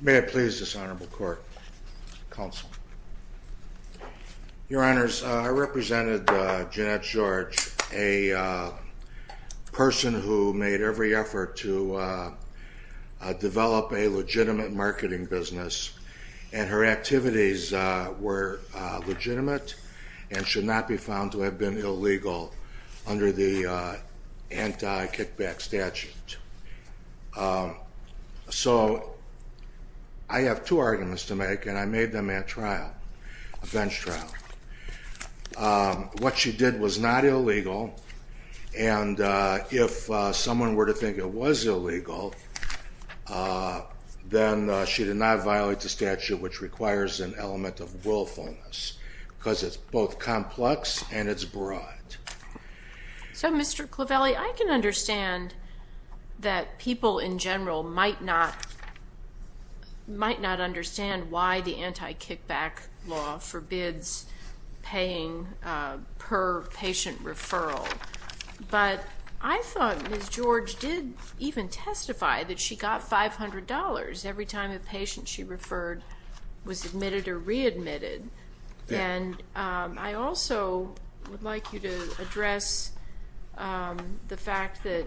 May it please this honorable court, counsel. Your honors, I represented Jenette George, a person who made every effort to develop a legitimate marketing business and her activities were legitimate and should not be found to I have two arguments to make and I made them at trial, a bench trial. What she did was not illegal and if someone were to think it was illegal then she did not violate the statute which requires an element of willfulness because it's both complex and it's broad. So Mr. Clavelli, I can understand that people in might not understand why the anti-kickback law forbids paying per patient referral but I thought Ms. George did even testify that she got $500 every time a patient she referred was admitted or readmitted and I also would like you to address the fact that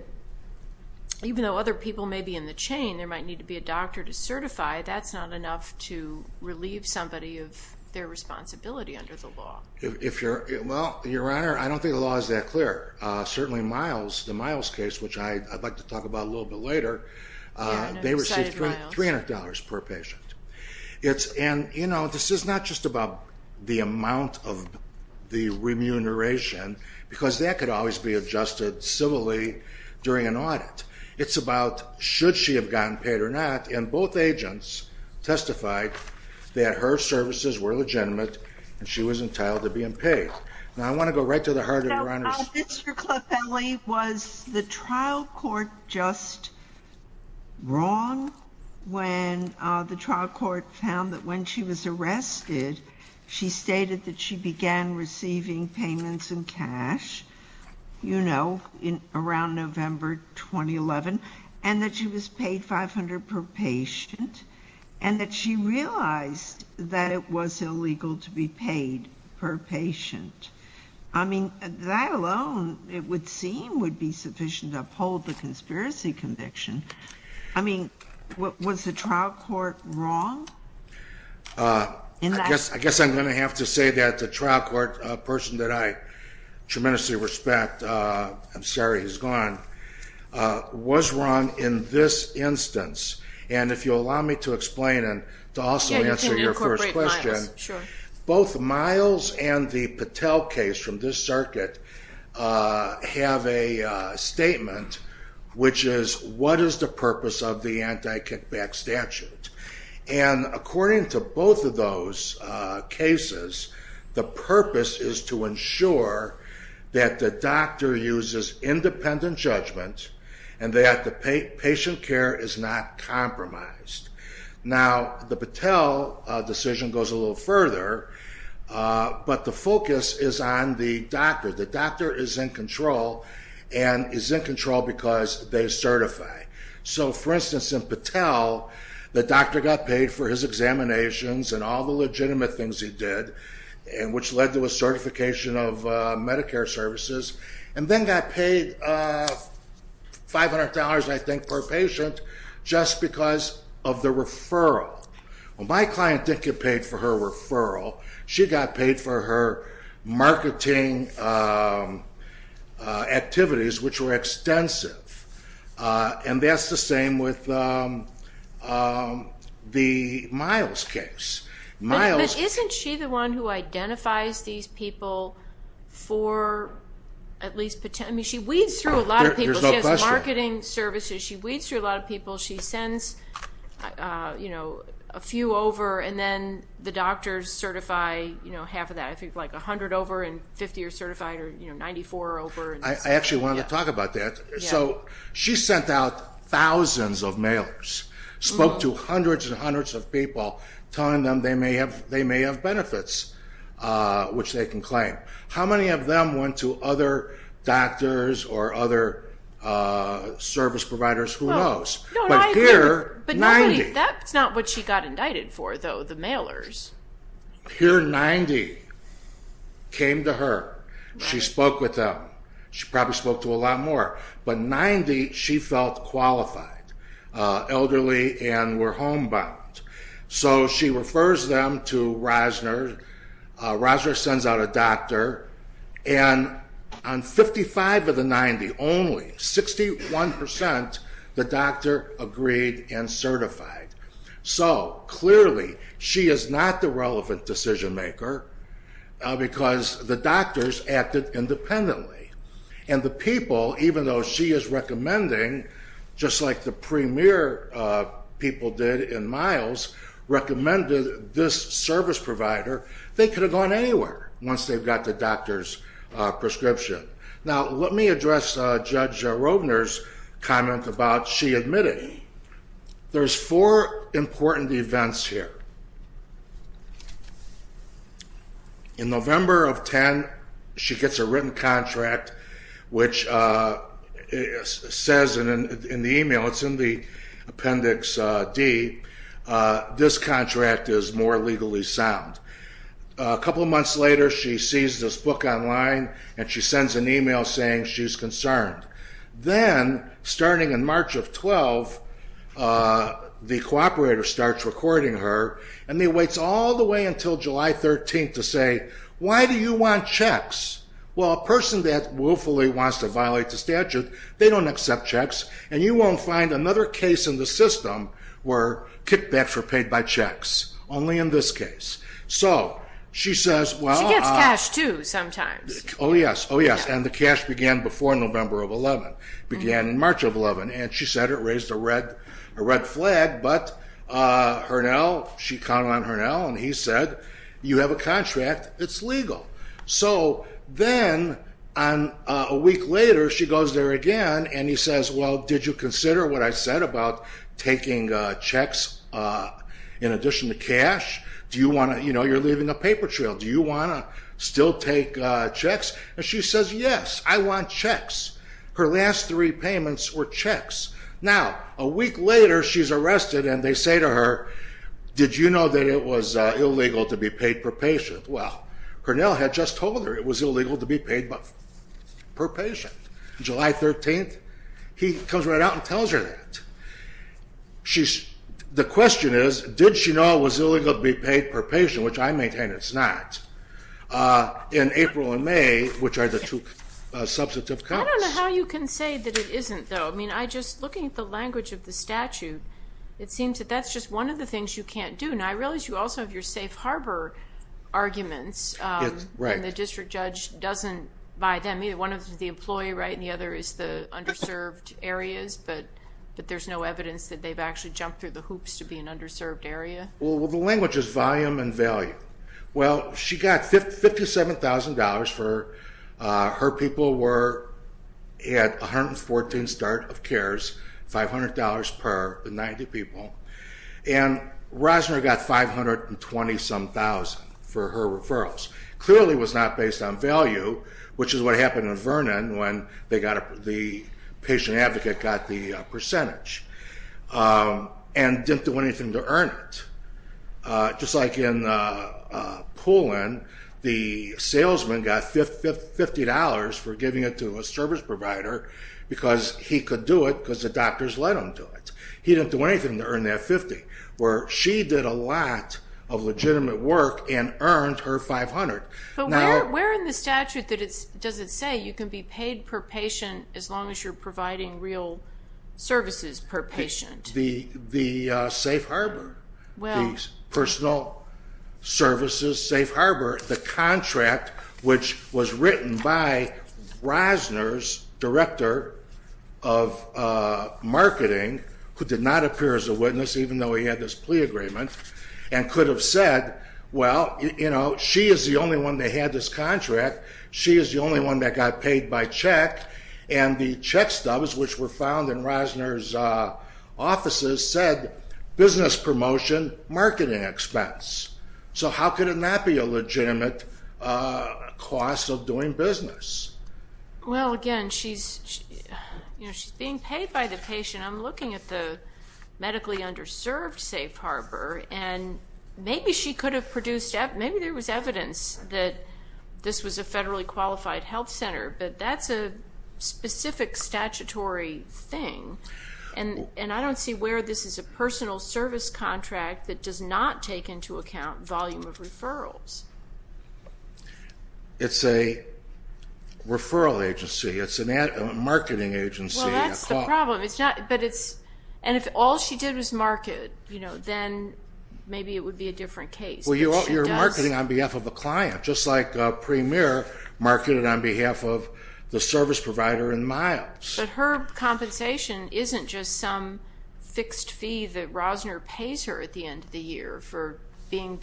even though other people may be in the certify that's not enough to relieve somebody of their responsibility under the law. If you're, well your honor I don't think the law is that clear certainly Miles, the Miles case which I'd like to talk about a little bit later they received $300 per patient. It's and you know this is not just about the amount of the remuneration because that could always be adjusted civilly during an audit. It's about should she have gotten paid or not and both agents testified that her services were legitimate and she was entitled to being paid. Now I want to go right to the heart of your honor. Mr. Clavelli was the trial court just wrong when the trial court found that when she was arrested she stated that she began receiving payments in cash you know in around November 2011 and that she was paid $500 per patient and that she realized that it was illegal to be paid per patient. I mean that alone it would seem would be sufficient uphold the conspiracy conviction. I mean what was the trial court wrong? I guess I'm gonna have to say that the trial court a person that I was wrong in this instance and if you'll allow me to explain and to also answer your first question. Both Miles and the Patel case from this circuit have a statement which is what is the purpose of the anti-kickback statute and according to both of those cases the purpose is to ensure that the doctor uses independent judgment and that the patient care is not compromised. Now the Patel decision goes a little further but the focus is on the doctor. The doctor is in control and is in control because they certify. So for instance in Patel the doctor got paid for his examinations and all the legitimate things he did and which led to a certification of Medicare services and then got paid $500 I think per patient just because of the referral. Well my client didn't get paid for her referral she got paid for her marketing activities which were extensive and that's the same with the Miles case. Isn't she the one who identifies these people for at least she weaves through a lot of people. She has marketing services she weaves through a lot of people she sends you know a few over and then the doctors certify you know half of that I think like a hundred over and 50 are certified or you know 94 over. I actually wanted to talk about that so she sent out thousands of mailers spoke to hundreds and hundreds of people telling them they may have they may have benefits which they can claim. How many of them went to other doctors or other service providers who knows. But here 90. That's not what she got indicted for though the mailers. Here 90 came to her she spoke with them she probably spoke to a lot more but 90 she felt qualified elderly and were homebound. So she refers them to Rosner. Rosner sends out a doctor and on 55 of the 90 only 61% the doctor agreed and certified. So clearly she is not the relevant decision maker because the doctors acted independently and the premier people did in miles recommended this service provider they could have gone anywhere once they've got the doctor's prescription. Now let me address Judge Rosner's comment about she admitting. There's four important events here. In November of 10 she gets a written contract which says in the email it's in the appendix D this contract is more legally sound. A couple months later she sees this book online and she sends an email saying she's concerned. Then starting in March of 12 the cooperator starts recording her and he waits all the way until July 13 to say why do you want checks? Well a person that willfully wants to violate the statute they don't accept checks and you won't find another case in the system where kickbacks are paid by checks. Only in this case. So she says well. She gets cash too sometimes. Oh yes oh yes and the cash began before November of 11 began in March of 11 and she said it raised a red a red flag but Hurnell she counted on Hurnell and he said you have a contract it's legal. So then on a week later she goes there again and he says well did you consider what I said about taking checks in addition to cash? Do you want to you know you're leaving a paper trail do you want to still take checks? And she says yes I want checks. Her last three payments were checks. Now a week later she's arrested and they say to her did you know that it was illegal to be paid per patient? Well Hurnell had just told her it was illegal to be paid per patient. July 13th he comes right out and tells her that. She's the question is did she know it was illegal to be paid per patient which I maintain it's not in April and May which are the two substantive counts. I don't know how you can say that it isn't though. I mean I just looking at the language of the statute it seems that that's just one of the district judge doesn't buy them either one of the employee right and the other is the underserved areas but that there's no evidence that they've actually jumped through the hoops to be an underserved area. Well the language is volume and value. Well she got $57,000 for her people were at 114 start of cares $500 per the 90 people and Rosner got five hundred and twenty some thousand for her referrals. Clearly was not based on value which is what happened in Vernon when they got the patient advocate got the percentage and didn't do anything to earn it. Just like in Pullen the salesman got $50 for giving it to a service provider because he could do it because the doctors let him do it. He didn't do anything to earn that 50 where she did a lot of work and earned her 500. But where in the statute that it's does it say you can be paid per patient as long as you're providing real services per patient? The safe harbor. Well personal services safe harbor the contract which was written by Rosner's director of marketing who did not appear as a Well you know she is the only one they had this contract she is the only one that got paid by check and the check stubs which were found in Rosner's offices said business promotion marketing expense. So how could it not be a legitimate cost of doing business? Well again she's you know she's being paid by the patient I'm looking at the medically underserved safe harbor and maybe she could have produced that maybe there was evidence that this was a federally qualified health center but that's a specific statutory thing and and I don't see where this is a personal service contract that does not take into account volume of referrals. It's a referral agency it's a marketing agency. Well that's the problem it's not but it's and if all she did was market you know then maybe it would be a different case. Well you're marketing on behalf of a client just like Premier marketed on behalf of the service provider in miles. But her compensation isn't just some fixed fee that Rosner pays her at the end of the year for being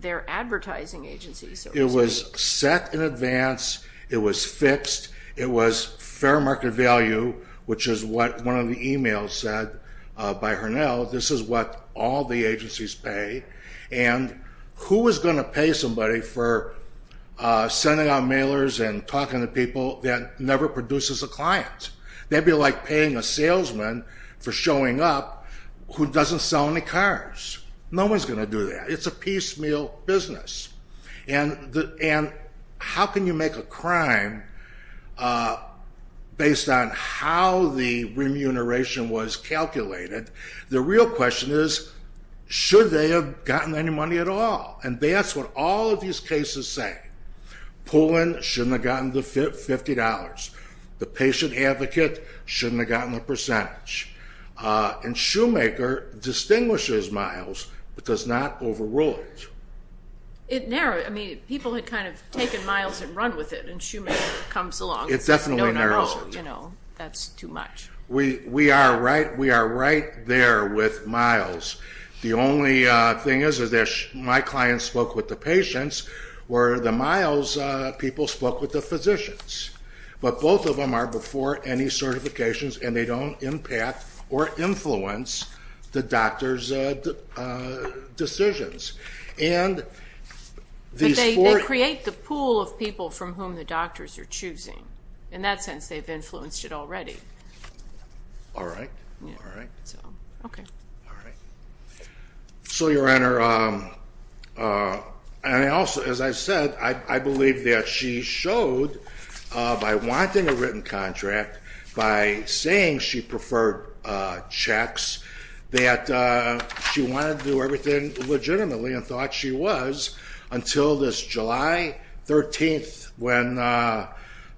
their advertising agency. It was set in advance it was fixed it was fair market value which is what one of the emails said by her now this is what all the agencies pay and who is going to pay somebody for sending out mailers and talking to people that never produces a client? They'd be like paying a salesman for showing up who doesn't sell any cars. No one's going to do that. It's a piecemeal business and how can you make a crime based on how the client is? Should they have gotten any money at all? And that's what all of these cases say. Pullen shouldn't have gotten the $50. The patient advocate shouldn't have gotten the percentage. And Shoemaker distinguishes miles but does not overrule it. It narrows I mean people had kind of taken miles and run with it and Shoemaker comes along. It definitely narrows it. That's too much. We are right there with miles. The only thing is that my client spoke with the patients where the miles people spoke with the physicians but both of them are before any certifications and they don't impact or influence the doctor's decisions. They create the pool of people from whom the doctors are choosing. In that sense they've influenced it already. So your honor, as I said I believe that she showed by wanting a written contract, by saying she preferred checks, that she wanted to do legitimately and thought she was until this July 13th when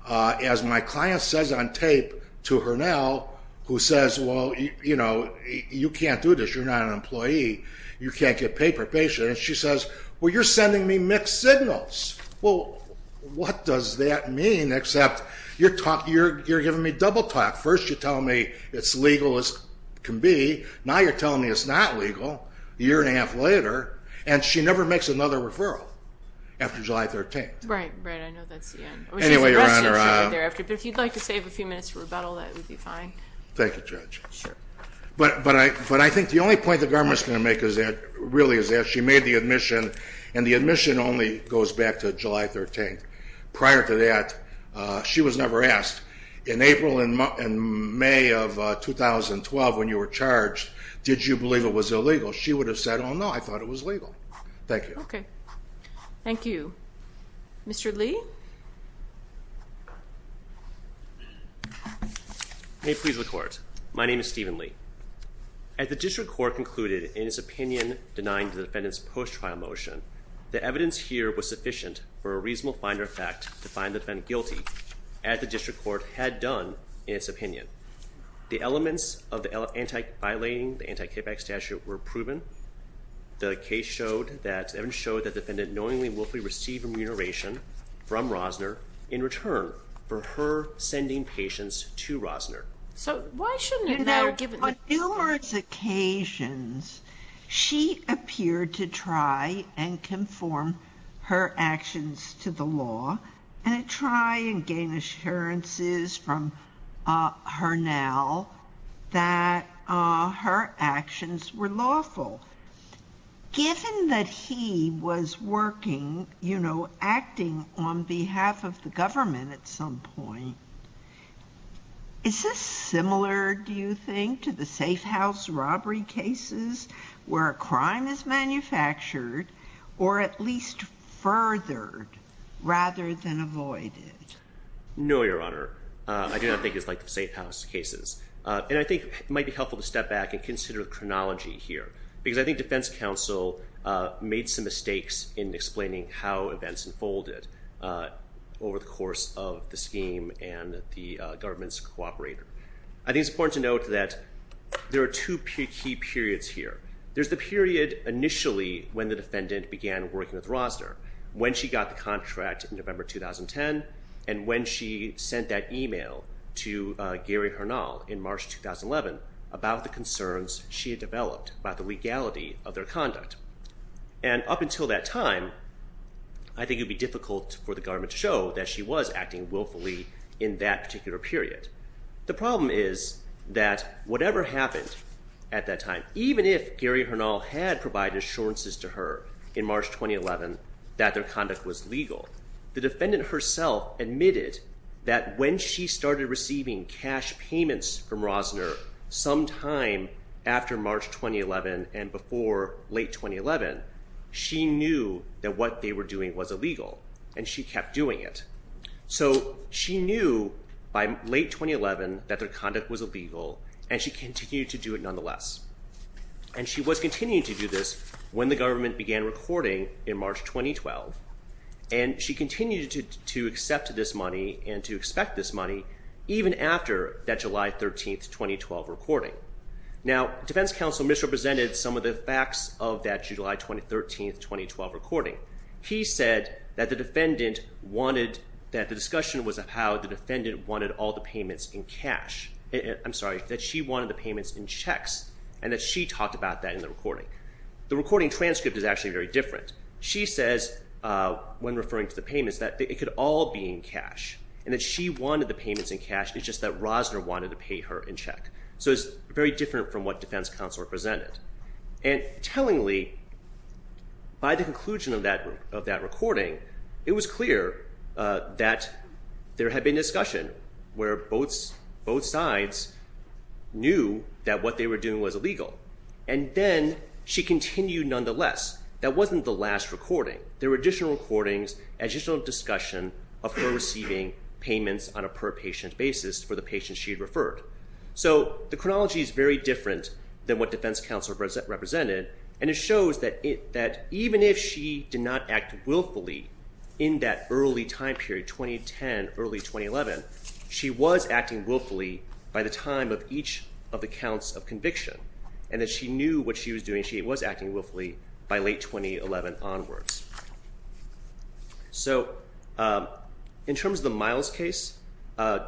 as my client says on tape to her now who says well you know you can't do this you're not an employee you can't get paper patient and she says well you're sending me mixed signals. Well what does that mean except you're talking you're giving me double talk. First you're telling me it's legal as can be. Now you're telling me it's not and she never makes another referral after July 13th. If you'd like to save a few minutes for rebuttal that would be fine. Thank you judge. But I think the only point the government is going to make is that really is that she made the admission and the admission only goes back to July 13th. Prior to that she was never asked in April and May of 2012 when you were I thought it was legal. Thank you. Okay. Thank you. Mr. Lee. May it please the court. My name is Stephen Lee. As the district court concluded in its opinion denying the defendant's post-trial motion, the evidence here was sufficient for a reasonable finder of fact to find the defendant guilty as the district court had done in its opinion. The elements of the anti-violating the case showed that evidence showed that the defendant knowingly and willfully received remuneration from Rosner in return for her sending patients to Rosner. So why shouldn't it now give... On numerous occasions she appeared to try and conform her actions to the law and try and gain assurances from her now that her actions were lawful. Given that he was working, you know, acting on behalf of the government at some point, is this similar do you think to the safe house robbery cases where a crime is manufactured or at least furthered rather than avoided? No, Your Honor. I do not think it's like the safe house cases and I think it might be helpful to step back and consider the chronology here because I think defense counsel made some mistakes in explaining how events unfolded over the course of the scheme and the government's cooperator. I think it's important to note that there are two key periods here. There's the period initially when the defendant began working with Rosner when she got the contract in November 2010 and when she sent that email to Gary Harnall in March 2011 about the concerns she had developed about the legality of their conduct. And up until that time, I think it'd be difficult for the government to show that she was acting willfully in that particular period. The problem is that whatever happened at that time, even if Gary Harnall had provided assurances to her in March 2011 that their conduct was legal, the defendant herself admitted that when she started receiving cash payments from Rosner sometime after March 2011 and before late 2011, she knew that what they were doing was illegal and she kept doing it. So she knew by late 2011 that their conduct was illegal and she continued to do it nonetheless. And she was continuing to do this when the government began recording in March 2012 and she continued to accept this money and to expect this money even after that July 13, 2012 recording. Now, defense counsel misrepresented some of the facts of that July 2013, 2012 recording. He said that the defendant wanted, that the discussion was about how the defendant wanted all the payments in cash. I'm sorry, that she wanted the payments in checks and that she talked about that in the recording. The recording transcript is actually very different. She says when referring to the payments that it could all be in cash and that she wanted the payments in cash, it's just that Rosner wanted to pay her in check. So it's very different from what defense counsel represented. And tellingly, by the conclusion of that recording, it was clear that there had been discussion where both sides knew that what they were doing was illegal and then she continued nonetheless. That wasn't the last recording. There were additional recordings, additional discussion of her receiving payments on a per patient basis for the patient she had referred. So the chronology is very different than what defense counsel represented and it shows that even if she did not act willfully in that early time period, 2010, early 2011, she was acting willfully by the time of each of the counts of conviction and that she knew what she was doing. She was acting willfully by late 2011 onwards. So in terms of the Miles case,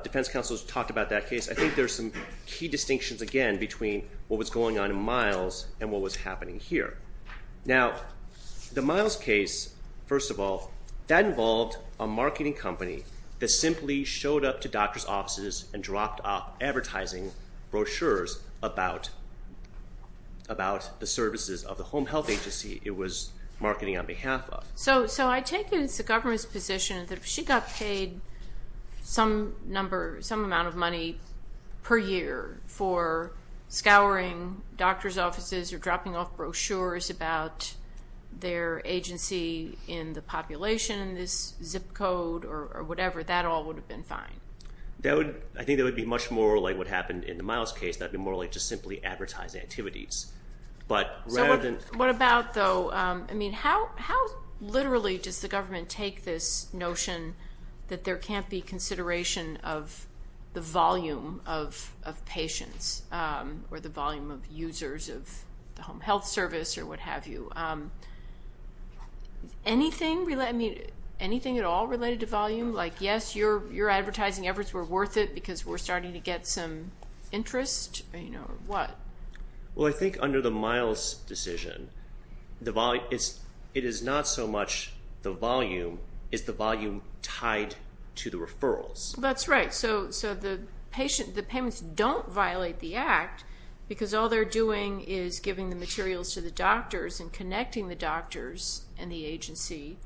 defense counsel talked about that case. I think there's some key distinctions again between what was going on in Miles and what was happening here. Now the Miles case, first of all, that involved a marketing company that simply showed up to doctor's offices and dropped off advertising brochures about the services of the home health agency it was marketing on behalf of. So I take it it's the government's position that if she got paid some number, some amount of money per year for scouring doctor's offices or dropping off brochures about their agency in the population, this zip code or whatever, that all would have been fine. I think that would be much more like what happened in the Miles case. That would be more like just simply advertising activities. But rather than... So what about though, I mean how literally does the government take this notion that there can't be consideration of the volume of patients or the volume of users of the home health service or what have you? Anything at all related to volume? Like yes, your get some interest or what? Well, I think under the Miles decision, it is not so much the volume, it's the volume tied to the referrals. That's right. So the patient, the payments don't violate the act because all they're doing is giving the materials to the doctors and connecting the doctors and the agency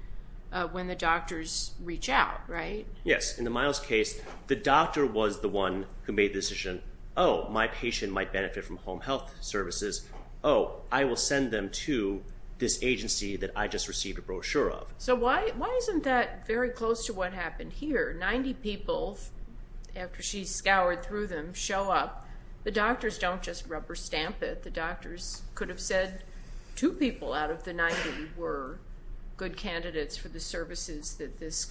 when the doctors reach out, right? Yes. In the Miles case, the doctor was the one who made the decision, oh, my patient might benefit from home health services. Oh, I will send them to this agency that I just received a brochure of. So why isn't that very close to what happened here? 90 people, after she scoured through them, show up. The doctors don't just rubber stamp it. The doctors could have said two people out of the 90 were good candidates for the services that this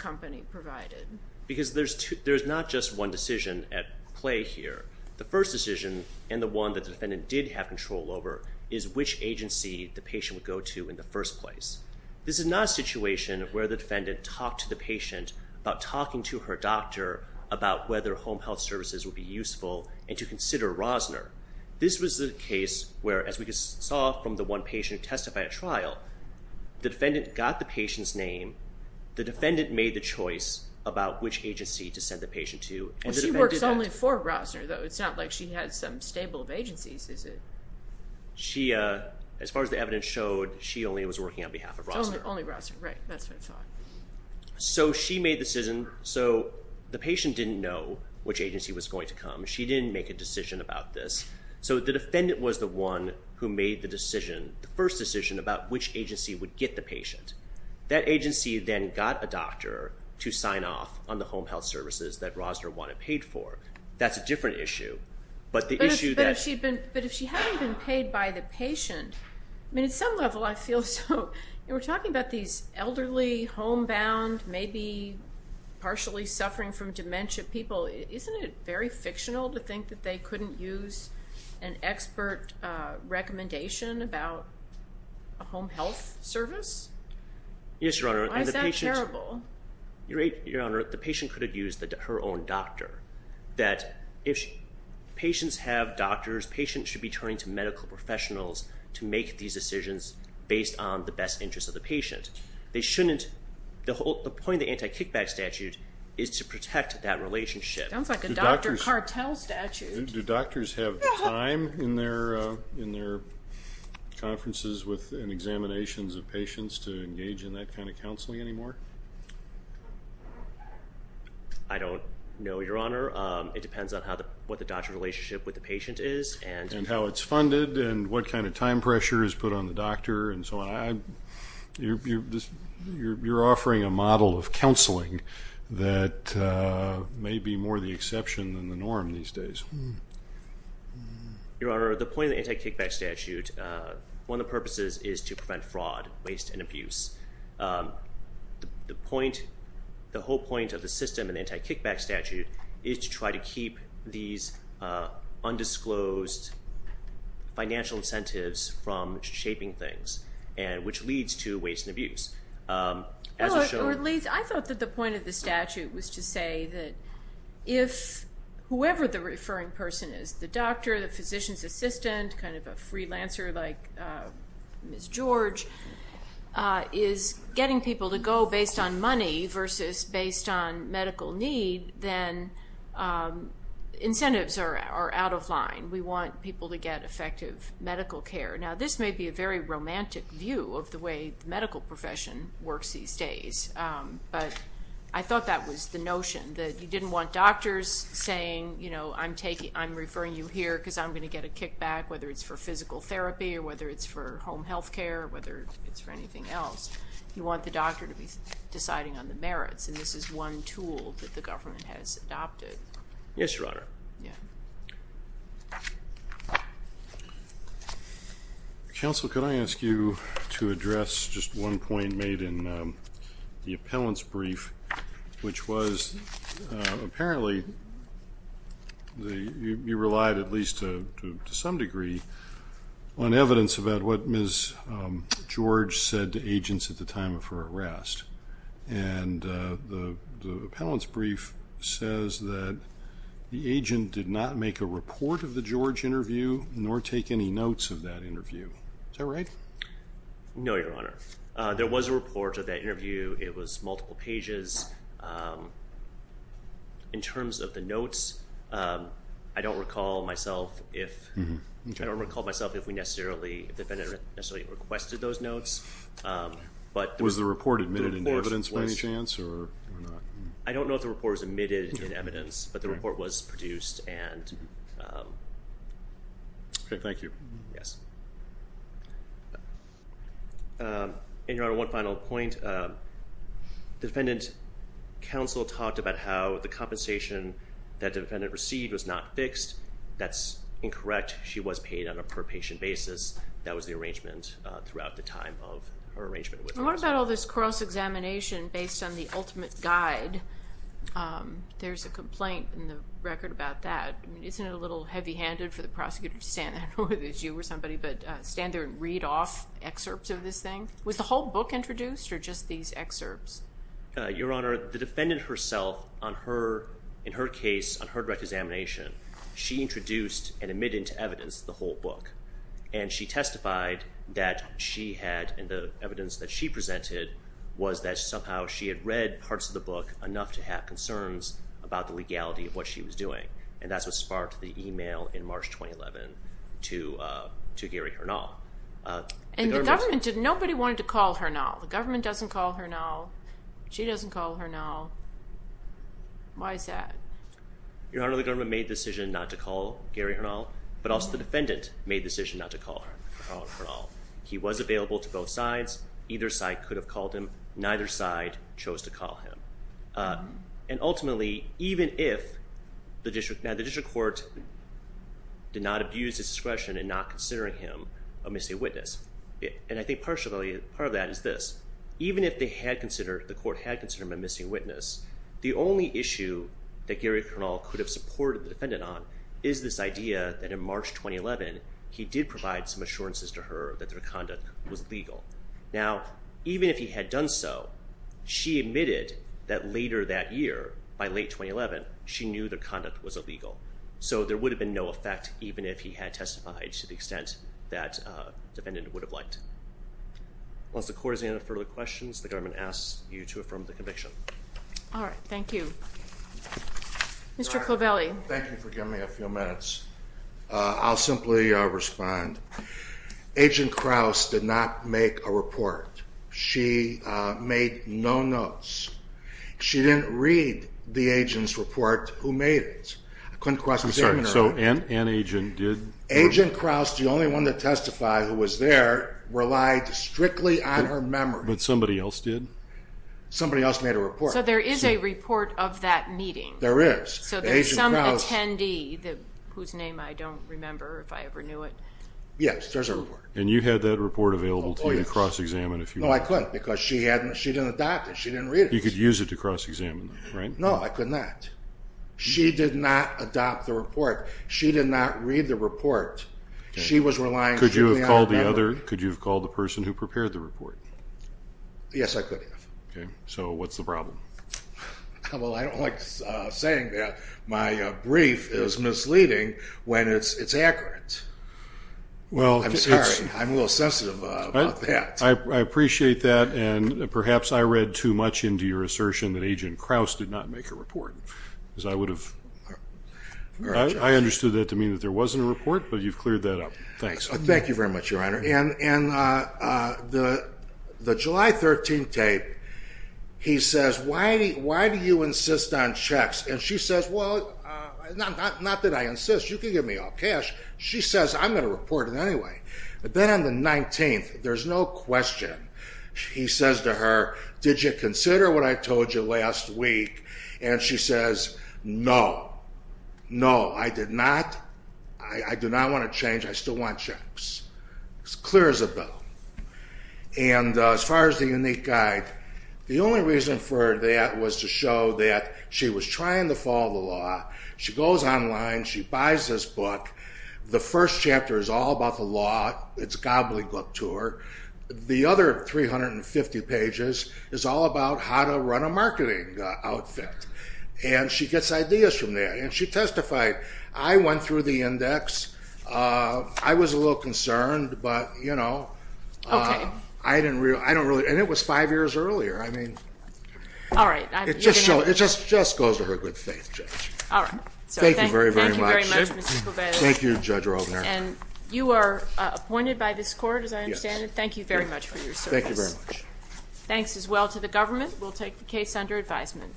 play here. The first decision and the one that the defendant did have control over is which agency the patient would go to in the first place. This is not a situation where the defendant talked to the patient about talking to her doctor about whether home health services would be useful and to consider Rosner. This was the case where, as we saw from the one patient who testified at trial, the defendant got the patient's name, the defendant made the choice about which agency was going to come. She didn't make a decision about this. So the defendant was the one who made the decision, the first decision about which agency would get the patient. That agency then got a doctor to sign off on the that's a different issue. But if she hadn't been paid by the patient, I mean at some level I feel so. We're talking about these elderly, homebound, maybe partially suffering from dementia people. Isn't it very fictional to think that they couldn't use an expert recommendation about a home health service? Yes, Your Honor. Why is that terrible? Your Honor, the patient could have her own doctor. That if patients have doctors, patients should be turning to medical professionals to make these decisions based on the best interests of the patient. They shouldn't, the whole point of the anti-kickback statute is to protect that relationship. Sounds like a doctor cartel statute. Do doctors have time in their in their conferences with and examinations of patients to engage in that kind of counseling anymore? I don't know, Your Honor. It depends on how the what the doctor relationship with the patient is and how it's funded and what kind of time pressure is put on the doctor and so on. You're offering a model of counseling that may be more the exception than the norm these days. Your Honor, the point of the anti-kickback statute, one of the purposes is to prevent fraud, waste, and abuse. The point, the whole point of the system and anti-kickback statute is to try to keep these undisclosed financial incentives from shaping things and which leads to waste and abuse. I thought that the point of the statute was to say that if whoever the referring person is, the charge, is getting people to go based on money versus based on medical need, then incentives are out of line. We want people to get effective medical care. Now this may be a very romantic view of the way the medical profession works these days, but I thought that was the notion that you didn't want doctors saying, you know, I'm taking I'm referring you here because I'm going to get a kickback whether it's for physical therapy or whether it's for home health care or whether it's for anything else. You want the doctor to be deciding on the merits and this is one tool that the government has adopted. Yes, Your Honor. Counsel, could I ask you to address just one point made in the appellant's brief which was apparently you relied at least to some degree on evidence about what Ms. George said to agents at the time of her arrest and the appellant's brief says that the agent did not make a report of the George interview nor take any notes of that interview. Is that right? No, Your Honor. There was a report of that which is, in terms of the notes, I don't recall myself if, I don't recall myself if we necessarily, if the defendant necessarily requested those notes. Was the report admitted in evidence by any chance? I don't know if the report was admitted in evidence, but the report was produced. Okay, thank you. Yes, and Your Honor, one counsel talked about how the compensation that defendant received was not fixed. That's incorrect. She was paid on a per patient basis. That was the arrangement throughout the time of her arrangement. What about all this cross-examination based on the ultimate guide? There's a complaint in the record about that. Isn't it a little heavy-handed for the prosecutor to stand there, I don't know if it was you or somebody, but stand there and read off excerpts of this thing? Was the whole book introduced or just these excerpts? Your Honor, the defendant herself on her, in her case, on her direct examination, she introduced and admitted to evidence the whole book. And she testified that she had, in the evidence that she presented, was that somehow she had read parts of the book enough to have concerns about the legality of what she was doing. And that's what sparked the email in March 2011 to Gary Hernal. And the government, nobody wanted to call Hernal. The government doesn't call Hernal. She doesn't call Hernal. Why is that? Your Honor, the government made the decision not to call Gary Hernal, but also the defendant made the decision not to call Hernal. He was available to both sides. Either side could have called him. Neither side chose to call him. And did not abuse his discretion in not considering him a missing witness. And I think partially, part of that is this. Even if they had considered, the court had considered him a missing witness, the only issue that Gary Hernal could have supported the defendant on is this idea that in March 2011, he did provide some assurances to her that their conduct was legal. Now, even if he had done so, she admitted that later that year, by late 2011, she knew their conduct was illegal. So there would have been no effect, even if he had testified to the extent that the defendant would have liked. Once the court has any further questions, the government asks you to affirm the conviction. All right, thank you. Mr. Covelli. Thank you for giving me a few minutes. I'll simply respond. Agent Krauss did not make a report. She made no notes. She didn't read the agent's report who was there. Agent Krauss, the only one to testify who was there, relied strictly on her memory. But somebody else did? Somebody else made a report. So there is a report of that meeting. There is. So there's some attendee whose name I don't remember, if I ever knew it. Yes, there's a report. And you had that report available to you to cross-examine? No, I couldn't because she didn't adopt it. She didn't read it. You could use it to cross-examine, right? No, I could not. She did not adopt the report. She did not read the report. She was relying... Could you have called the other... could you have called the person who prepared the report? Yes, I could have. Okay, so what's the problem? Well, I don't like saying that. My brief is misleading when it's accurate. Well... I'm sorry, I'm a little sensitive about that. I appreciate that and perhaps I read too much into your assertion that Agent would have... I understood that to mean that there wasn't a report, but you've cleared that up. Thanks. Thank you very much, Your Honor. And the July 13th tape, he says, why do you insist on checks? And she says, well, not that I insist. You can give me all cash. She says, I'm going to report it anyway. But then on the 19th, there's no question. He says to her, did you consider what I told you last week? And she says, no. No, I did not. I do not want to change. I still want checks. It's clear as a bell. And as far as the unique guide, the only reason for that was to show that she was trying to follow the law. She goes online. She buys this book. The first chapter is all about the law. It's gobbledygook to her. The other 350 pages is all about how to run a marketing outfit. And she gets ideas from there. And she testified. I went through the index. I was a little concerned, but, you know, I didn't really... I don't really... and it was five years earlier. I mean... All right. It just goes to her good faith, Judge. All right. Thank you very, very much. Thank you, Judge Rovner. And you are appointed by this court. Thank you very much. Thanks as well to the government. We'll take the case under advisement.